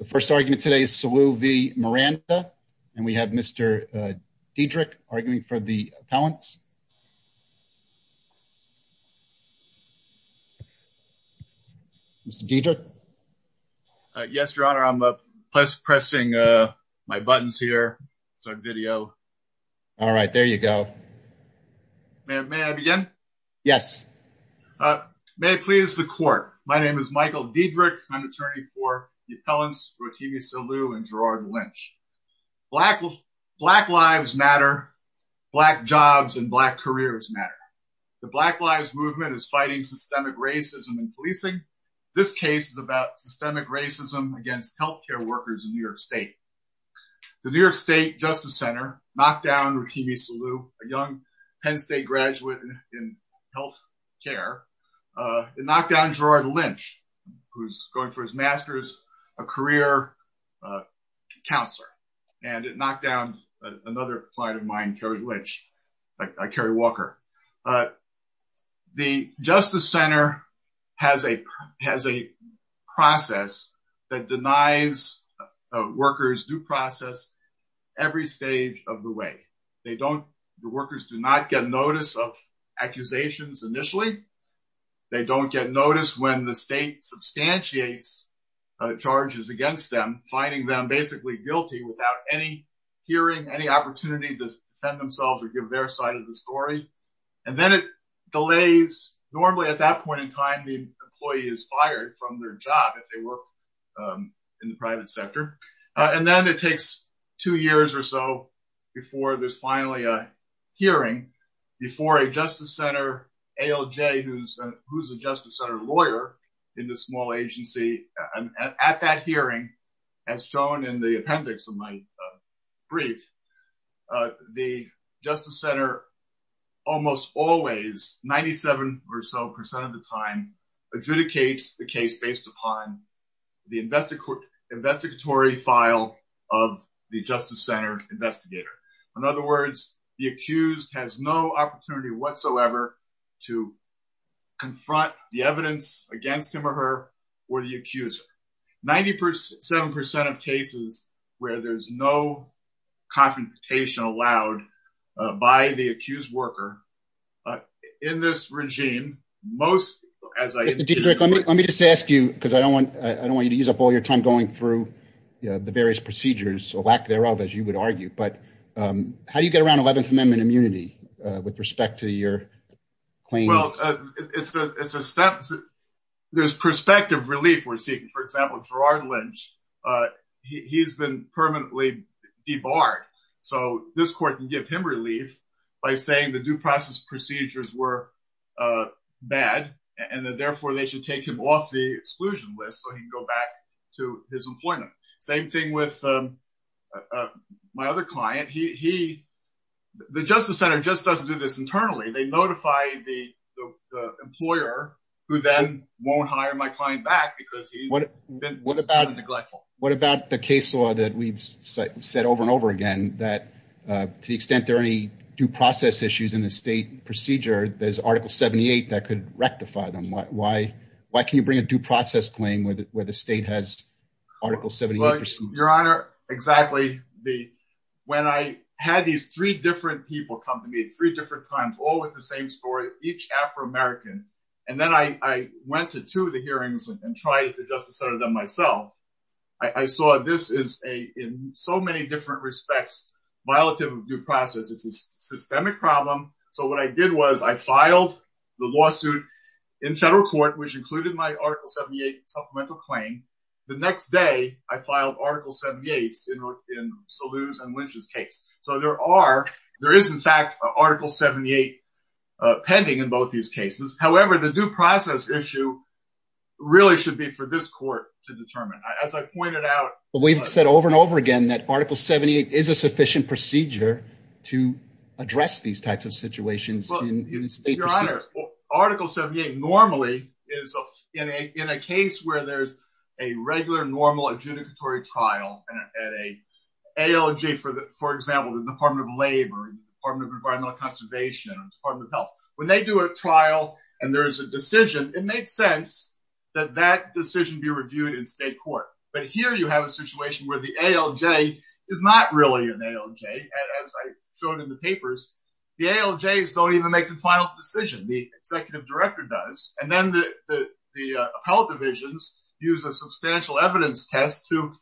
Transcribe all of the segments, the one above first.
The first argument today is Salu v. Miranda and we have Mr. Diedrich arguing for the appellants. Mr. Diedrich. Yes, your honor. I'm pressing my buttons here. It's on video. All right, there you go. May I begin? Yes. May I please the court. My name is John Diedrich. I'm an attorney for the appellants Rotimi Salu and Gerard Lynch. Black lives matter. Black jobs and black careers matter. The Black Lives Movement is fighting systemic racism in policing. This case is about systemic racism against healthcare workers in New York State. The New York State Justice Center knocked down Rotimi Salu, a young Penn career counselor, and it knocked down another client of mine, Kerry Walker. The Justice Center has a process that denies workers due process every stage of the way. The workers do not get notice of accusations initially. They don't get notice when the state substantiates charges against them, finding them basically guilty without any hearing, any opportunity to defend themselves or give their side of the story. And then it delays. Normally at that point in time, the employee is fired from their job if they work in the private sector. And then it takes two years or so before there's finally a hearing before a Justice Center ALJ, who's a Justice Center lawyer in this small agency. And at that hearing, as shown in the appendix of my brief, the Justice Center almost always, 97 or so percent of the time, adjudicates the case based upon the investigatory file of the Justice Center investigator. In other words, the accused has no opportunity whatsoever to confront the evidence against him or her or the accuser. 97 percent of cases where there's no confrontation allowed by the accused worker in this regime, most as I... Mr. Dietrich, let me just ask you, because I don't want, I don't want you to use up all your time going through the various procedures or lack thereof, as you would argue, but how do you get around 11th Amendment immunity with respect to your claims? Well, there's perspective relief we're seeking. For example, Gerard Lynch, he's been permanently debarred. So this court can give him relief by saying the due process procedures were bad and that therefore they should take him off the exclusion list so he can go back to his employment. Same thing with my other client. He, he, the Justice Center just doesn't do this internally. They notify the employer who then won't hire my client back because he's been neglected. What about the case law that we've said over and over again, that to the extent there are any due process issues in the state procedure, there's Article 78 that could rectify them. Why, why, why can you bring a due process claim where the state has Article 78? Your Honor, exactly. When I had these three different people come to me at three different times, all with the same story, each Afro-American, and then I went to two of the hearings and tried the Justice Center them myself. I saw this is a, in so many different respects, violative of due process. It's a systemic problem. So what I did was I filed the lawsuit in federal court, which included my Article 78 supplemental claim. The next day, I filed Article 78 in Saluz and Lynch's case. So there are, there is in fact, Article 78 pending in both these cases. However, the due process issue really should be for this court to determine. As I pointed out. We've said over and over again that Article 78 is a sufficient procedure to address these types of situations. Your Honor, Article 78 normally is in a, in a case where there's a regular, normal adjudicatory trial at a ALJ for the, for example, the Department of Labor, Department of Environmental Conservation, Department of Health. When they do a trial and there is a decision, it makes sense that that decision be reviewed in state court. But the ALJs don't even make the final decision. The executive director does. And then the, the, the appellate divisions use a substantial evidence test to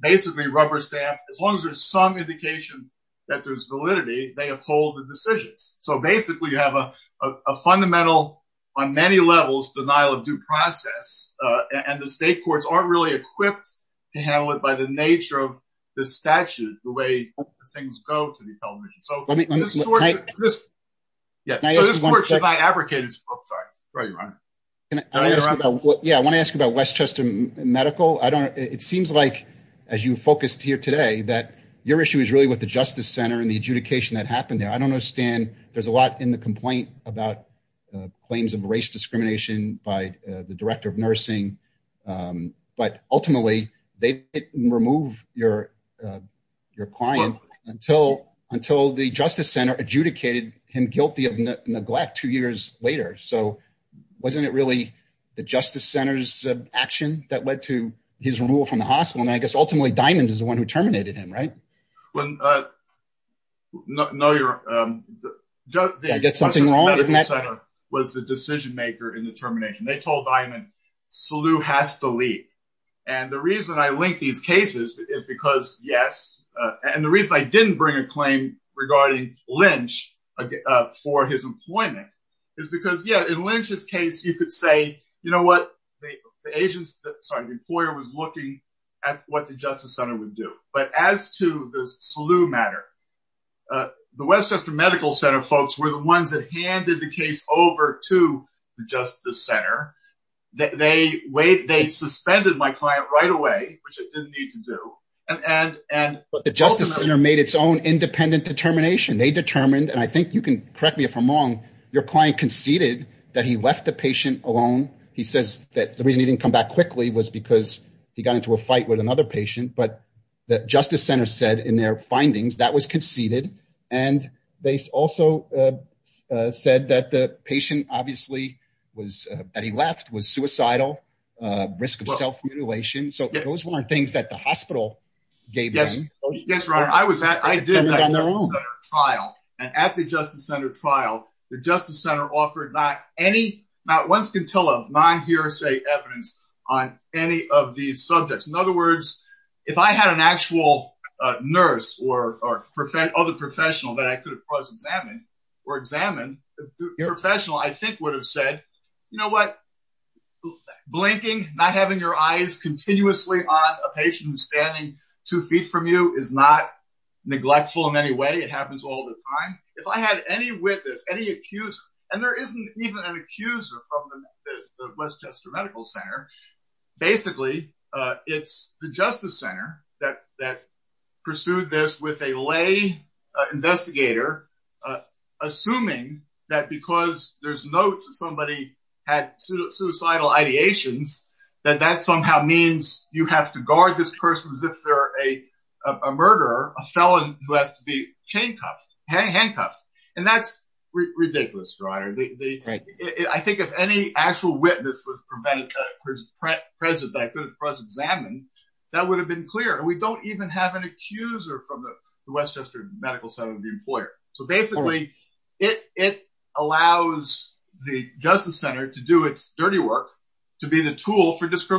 basically rubber stamp, as long as there's some indication that there's validity, they uphold the decisions. So basically you have a fundamental, on many levels, denial of due process. And the state courts aren't really this. Yeah. So this court should not advocate it's fault. Sorry, Your Honor. Yeah. I want to ask you about Westchester Medical. I don't know. It seems like, as you focused here today, that your issue is really with the Justice Center and the adjudication that happened there. I don't understand. There's a lot in the complaint about claims of race discrimination by the director of nursing. But ultimately, they didn't remove your, your client until, until the Justice Center adjudicated him guilty of neglect two years later. So wasn't it really the Justice Center's action that led to his removal from the hospital? And I guess ultimately, Diamond is the one who terminated him, right? When, uh, no, no, you're, I get something wrong. Was the decision maker in the termination. They told Diamond, Sulu has to yes. And the reason I didn't bring a claim regarding Lynch for his employment is because yeah, in Lynch's case, you could say, you know what the agents, sorry, the employer was looking at what the Justice Center would do. But as to the Sulu matter, the Westchester Medical Center folks were the ones that handed the case over to the Justice Center. They suspended my client right away, which I didn't need to do. And, and, and, but the Justice Center made its own independent determination. They determined, and I think you can correct me if I'm wrong, your client conceded that he left the patient alone. He says that the reason he didn't come back quickly was because he got into a fight with another patient. But the Justice Center said in their findings, that was conceded. And they also, uh, uh, said that the patient obviously was, uh, that he left was suicidal, uh, risk of self-mutilation. So those weren't things that the hospital gave. Yes. Yes. Right. I was at, I did that trial and at the Justice Center trial, the Justice Center offered not any, not one scintilla, non-hearsay evidence on any of these subjects. In other words, if I had an actual nurse or, or other professional that I could have quasi-examined or examined, your professional, I think would have said, you know what? Blinking, not having your eyes continuously on a patient who's standing two feet from you is not neglectful in any way. It happens all the time. If I had any witness, any accuser, and there isn't even an at the Iris Chester Medical Center. Basically, uh, it's the Justice Center that that pursued this with a lay investigator, assuming that because there's notes of somebody had suicidal ideations, that that somehow means you have to guard this person as if there a murderer, a felon who has to be handcuffed. And that's ridiculous, your honor. I think if any actual witness was present that could have been examined, that would have been clear. We don't even have an accuser from the West Chester Medical Center, the employer. So basically, it allows the Justice Center to do its dirty work to be the tool for All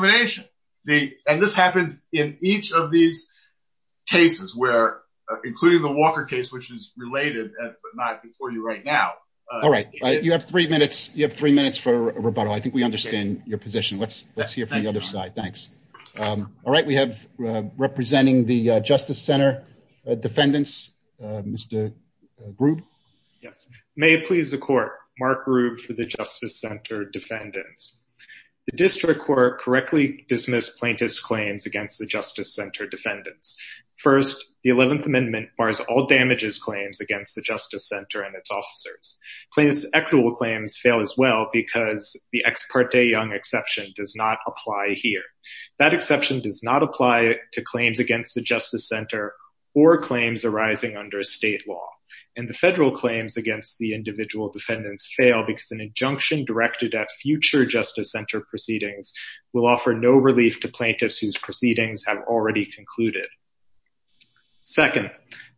right. You have three minutes. You have three minutes for a rebuttal. I think we understand your position. Let's let's hear from the other side. Thanks. Um, all right. We have representing the Justice Center defendants, Mr. Rube. Yes. May it please the court. Mark Rube for the Justice Center defendants. The district court correctly dismissed plaintiff's claims against the Justice Center defendants. First, the 11th Amendment bars all damages claims against the Justice Center and its officers. Claims, equitable claims fail as well because the ex parte Young exception does not apply here. That exception does not apply to claims against the Justice Center or claims arising under state law and the federal claims against the individual defendants fail because an injunction directed at future Justice Center proceedings will offer no relief to plaintiffs whose proceedings have already concluded. Second,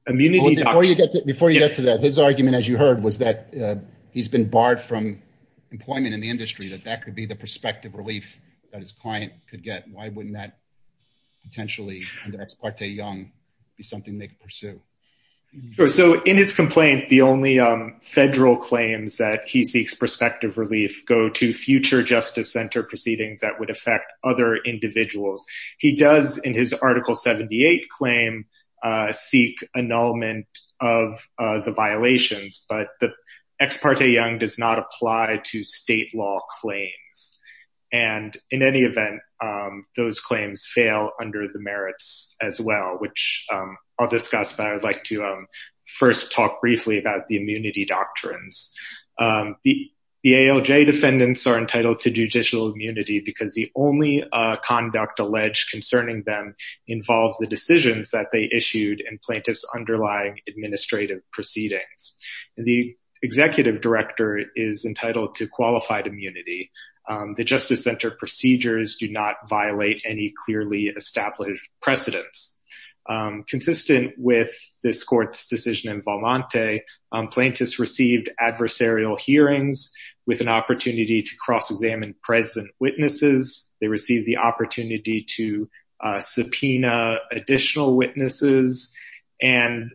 immunity. Before you get to that, his argument, as you heard, was that he's been barred from employment in the industry, that that could be the prospective relief that his client could get. Why wouldn't that potentially under ex parte Young be something they could pursue? So in his complaint, the only federal claims that he seeks prospective relief go to future Justice Center proceedings that would affect other individuals. He does, in his Article 78 claim, seek annulment of the violations, but the ex parte Young does not apply to state law claims. And in any event, those claims fail under the merits as well, which I'll discuss, but I would like to first talk briefly about the immunity doctrines. The ALJ defendants are entitled to judicial immunity because the only conduct alleged concerning them involves the decisions that they issued and plaintiffs underlying administrative proceedings. The executive director is entitled to qualified immunity. The Justice Center procedures do not violate any clearly established precedents. Consistent with this court's decision in Valmonte, plaintiffs received adversarial hearings with an opportunity to cross-examine present witnesses. They received the opportunity to subpoena additional witnesses. And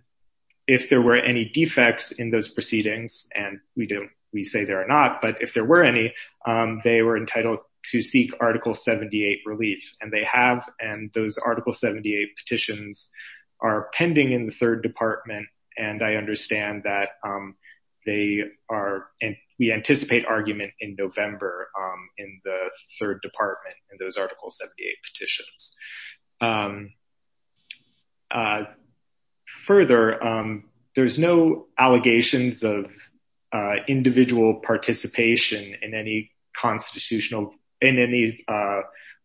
if there were any defects in those proceedings, and we say there are not, but if there were any, they were entitled to seek Article 78 relief. And they have, and those Article 78 petitions are pending in the third department. And I understand that they are, we anticipate argument in November in the third department in those Article 78 petitions. Further, there's no allegations of individual participation in any constitutional, in any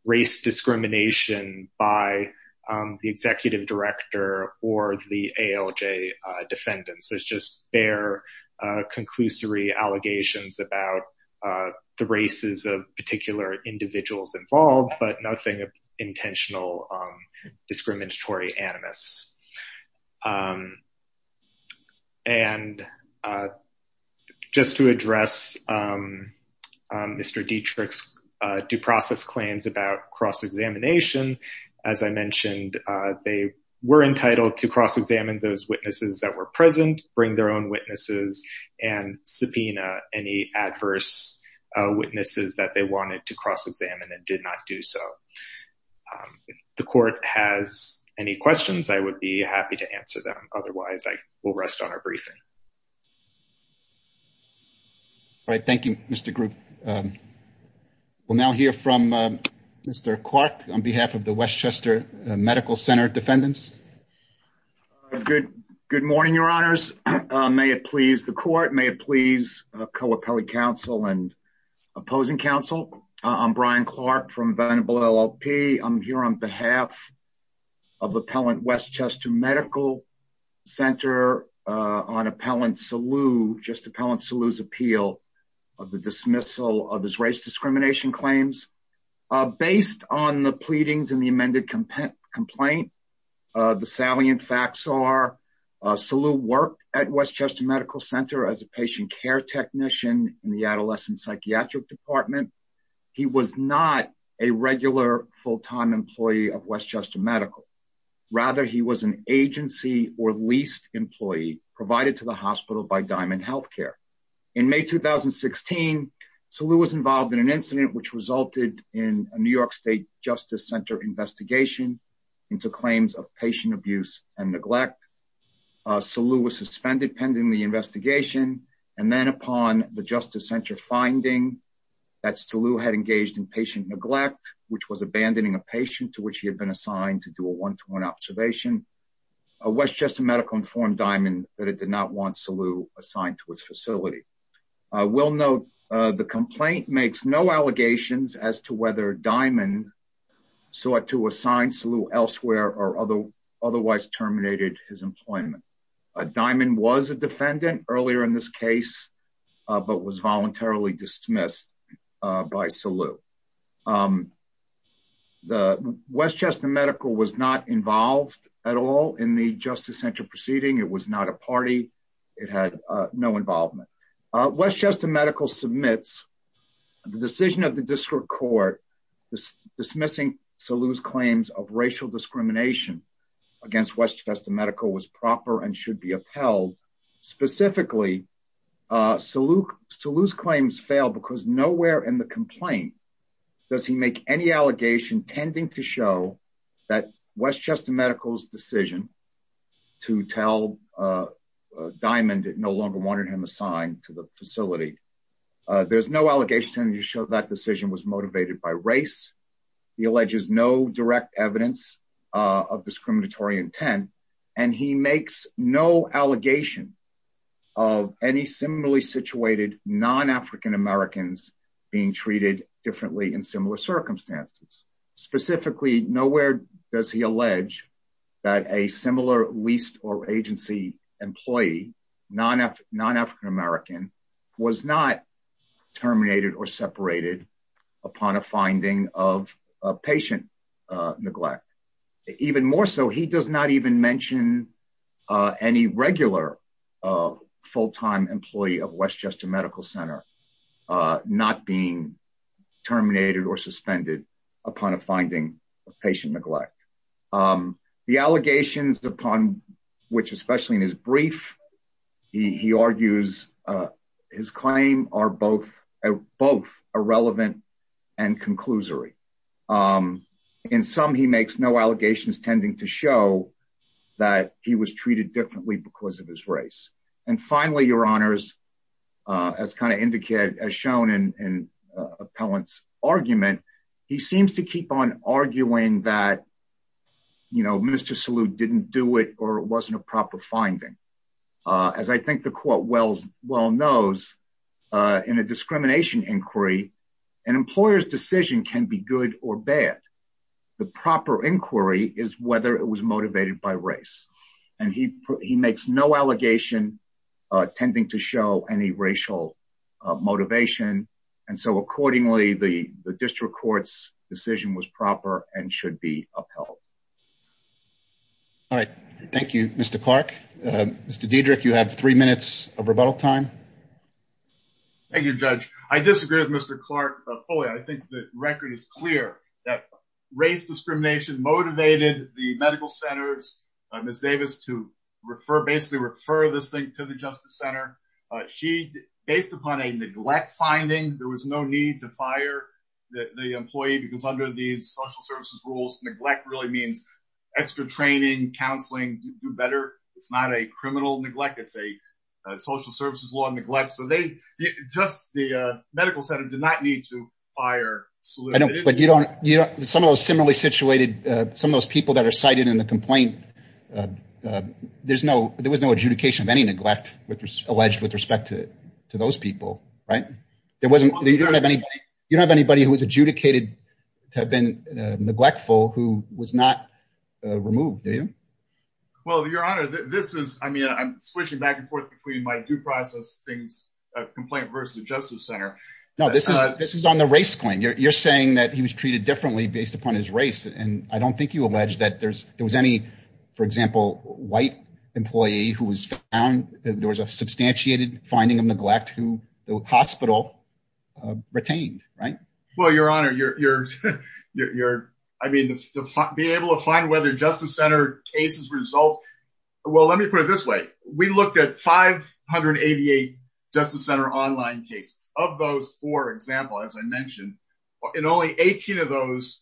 race discrimination by the executive director or the ALJ defendants. There's just bare conclusory allegations about the races of particular individuals involved, but nothing of intentional discriminatory animus. And just to address Mr. Dietrich's due process claims about cross-examination, as I mentioned, they were entitled to cross-examine those witnesses that were present, bring their own witnesses, and subpoena any adverse witnesses that they wanted to cross-examine and did not do so. If the court has any questions, I would be happy to answer them. Otherwise, I will rest on our briefing. All right. Thank you, Mr. Group. We'll now hear from Mr. Clark on behalf of the Westchester Medical Center defendants. Good morning, Your Honors. May it please the court, may it please co-appellate counsel and opposing counsel. I'm Brian Clark from Venable LLP. I'm here on behalf of Appellant Westchester Medical Center on Appellant Saloo, just Appellant Saloo's appeal of the dismissal of his race discrimination claims. Based on the pleadings in the amended complaint, the salient facts are Saloo worked at Westchester Medical Center as a patient care technician in the adolescent psychiatric department. He was not a regular full-time employee of Westchester Medical. Rather, he was an agency or leased employee provided to the hospital by Diamond Healthcare. In May 2016, Saloo was involved in an incident which resulted in a New York State Justice Center investigation into claims of patient abuse and neglect. Saloo was suspended pending the investigation, and then upon the Justice Center finding that Saloo had engaged in patient neglect, which was abandoning a patient to which he had been assigned to do a one-to-one observation, Westchester Medical informed Diamond that it did not want Saloo assigned to its facility. I will note the complaint makes no allegations as to whether Diamond sought to assign Saloo elsewhere or otherwise terminated his employment. Diamond was a defendant earlier in this case, but was voluntarily dismissed by Saloo. Westchester Medical was not involved at all in the Justice Center proceeding. It was not a party. It had no involvement. Westchester Medical submits the decision of the district court dismissing Saloo's claims of racial discrimination against Westchester Medical was proper and should be upheld. Specifically, Saloo's claims fail because nowhere in the complaint does he make any allegation tending to show that Westchester Medical's decision to tell Diamond it no longer wanted him assigned to the facility. There's no allegation to show that decision was motivated by race. He alleges no direct evidence of discriminatory intent, and he makes no allegation of any similarly situated non-African Americans being treated differently in similar circumstances. Specifically, nowhere does he allege that a similar leased or agency employee, non-African American, was not terminated or separated upon a finding of patient neglect. Even more so, he does not even mention any regular full-time employee of Westchester Medical Center not being terminated or suspended upon a finding of patient neglect. The allegations upon which, especially in his brief, he argues his claim are both irrelevant and conclusory. In some, he makes no allegations tending to show that he was treated differently because of his race. And finally, your honors, as shown in Appellant's argument, he seems to keep on arguing that Mr. Saloo didn't do it or it wasn't a proper finding. As I think the court well knows, in a discrimination inquiry, an employer's decision can be good or bad. The proper inquiry is whether it was motivated by race, and he makes no allegation tending to show any racial motivation. And so accordingly, the district court's decision was proper and should be upheld. All right. Thank you, Mr. Clark. Mr. Diedrich, you have three minutes of rebuttal time. Thank you, Judge. I disagree with Mr. Clark fully. I think the record is clear that race discrimination motivated the medical centers, Ms. Davis, to refer, basically refer this thing to the justice center. Based upon a neglect finding, there was no need to fire the employee because under the social services rules, neglect really means extra training, counseling, do better. It's not a criminal neglect. It's a social services law neglect. So they just the medical center did not need to fire. But you don't you know, some of those similarly situated some of those people that are cited in the complaint. There's no there was no adjudication of any neglect alleged with respect to to those people. Right. It wasn't you don't have anybody. You don't have anybody who is adjudicated to have been neglectful who was not removed. Well, your honor, this is I mean, I'm switching back and forth between my due process things complaint versus the justice center. Now, this is this is on the race claim. You're saying that he was treated differently based upon his race. And I don't think you allege that there's there was any, for example, white employee who was found. There was a substantiated finding of neglect who the hospital retained. Right. Well, your honor, you're you're you're I mean, to be able to find whether justice center cases result. Well, let me put it this way. We looked at five hundred eighty eight justice center online cases of those four example, as I mentioned in only 18 of those.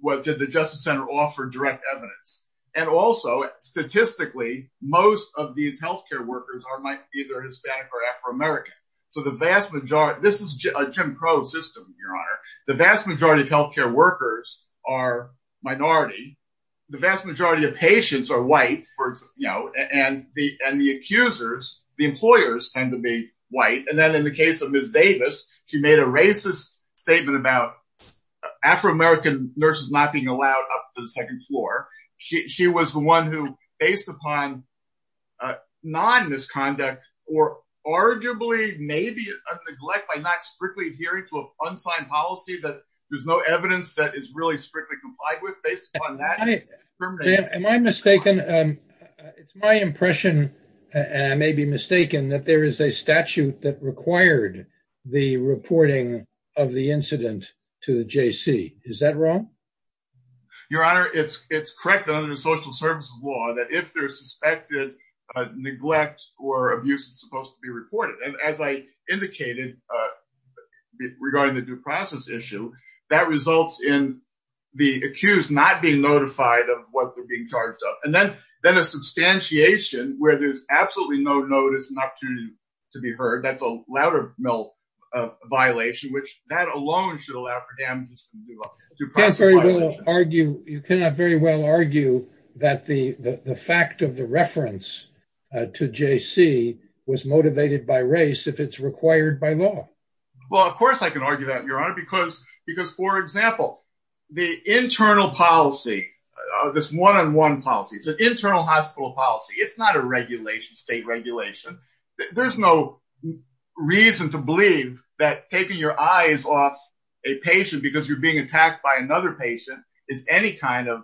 What did the justice center offer direct evidence? And also, statistically, most of these health care workers are either Hispanic or Afro-American. So the vast majority this is a Jim Crow system. Your honor, the vast majority of health care workers are minority. The vast majority of patients are white. You know, and the and the accusers, the employers tend to be white. And then in the case of Ms. Davis, she made a racist statement about Afro-American nurses not being allowed up to the second floor. She was the one who based upon non-misconduct or arguably maybe a neglect by not strictly adhering to an unsigned policy that there's no evidence that is really strictly complied with based on that. Am I mistaken? It's my impression and I may be mistaken that there is a statute that required the reporting of the incident to the JC. Is that wrong? Your honor, it's it's correct. Law that if there's suspected neglect or abuse, it's supposed to be reported. And as I indicated regarding the due process issue, that results in the accused not being notified of what they're being charged up. And then then a substantiation where there's absolutely no notice, not to to be heard. That's a lot of no violation, which that alone should allow for damages. You can't really argue. You cannot very well argue that the fact of the reference to JC was motivated by race if it's required by law. Well, of course, I can argue that, your honor, because because, for example, the internal policy, this one on one policy, it's an internal hospital policy. It's not a regulation, state regulation. There's no reason to believe that taking your eyes off a patient because you're being attacked by another patient is any kind of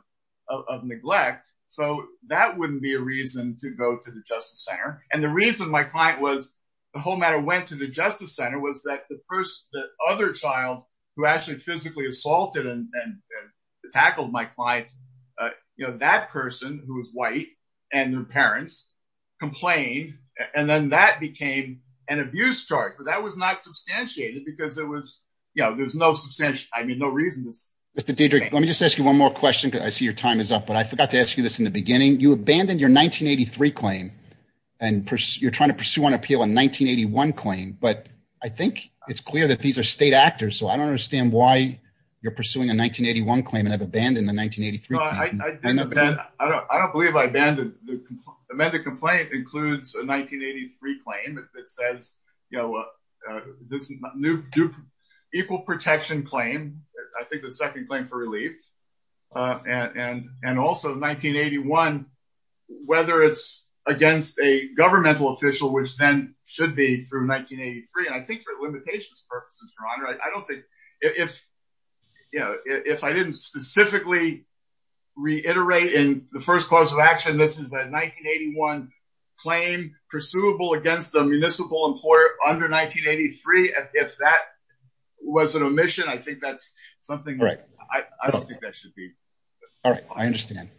of neglect. So that wouldn't be a reason to go to the justice center. And the reason my client was the whole matter went to the justice center was that the first other child who actually physically assaulted and tackled my client, that person who was white and their parents complained and then that became an abuse charge. But that was not substantiated because it was you know, there's no substantial. I mean, no reason. Mr. Peter, let me just ask you one more question. I see your time is up, but I forgot to ask you this in the beginning. I mean, you abandoned your 1983 claim and you're trying to pursue an appeal in 1981 claim. But I think it's clear that these are state actors. So I don't understand why you're pursuing a 1981 claim and have abandoned the 1983. I don't believe I abandoned the medical complaint includes a 1983 claim. It says, you know, this new equal protection claim, I think the second claim for relief and and also 1981, whether it's against a governmental official, which then should be through 1983. And I think for limitations purposes, Ron, I don't think if you know, if I didn't specifically reiterate in the first course of action, this is a 1981 claim pursuable against a municipal employer under 1983. And if that was an omission, I think that's something I don't think that should be. All right. I understand.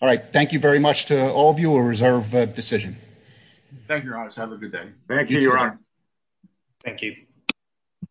All right. Thank you very much to all of you. A reserve decision. Thank you. Have a good day. Thank you. Thank you.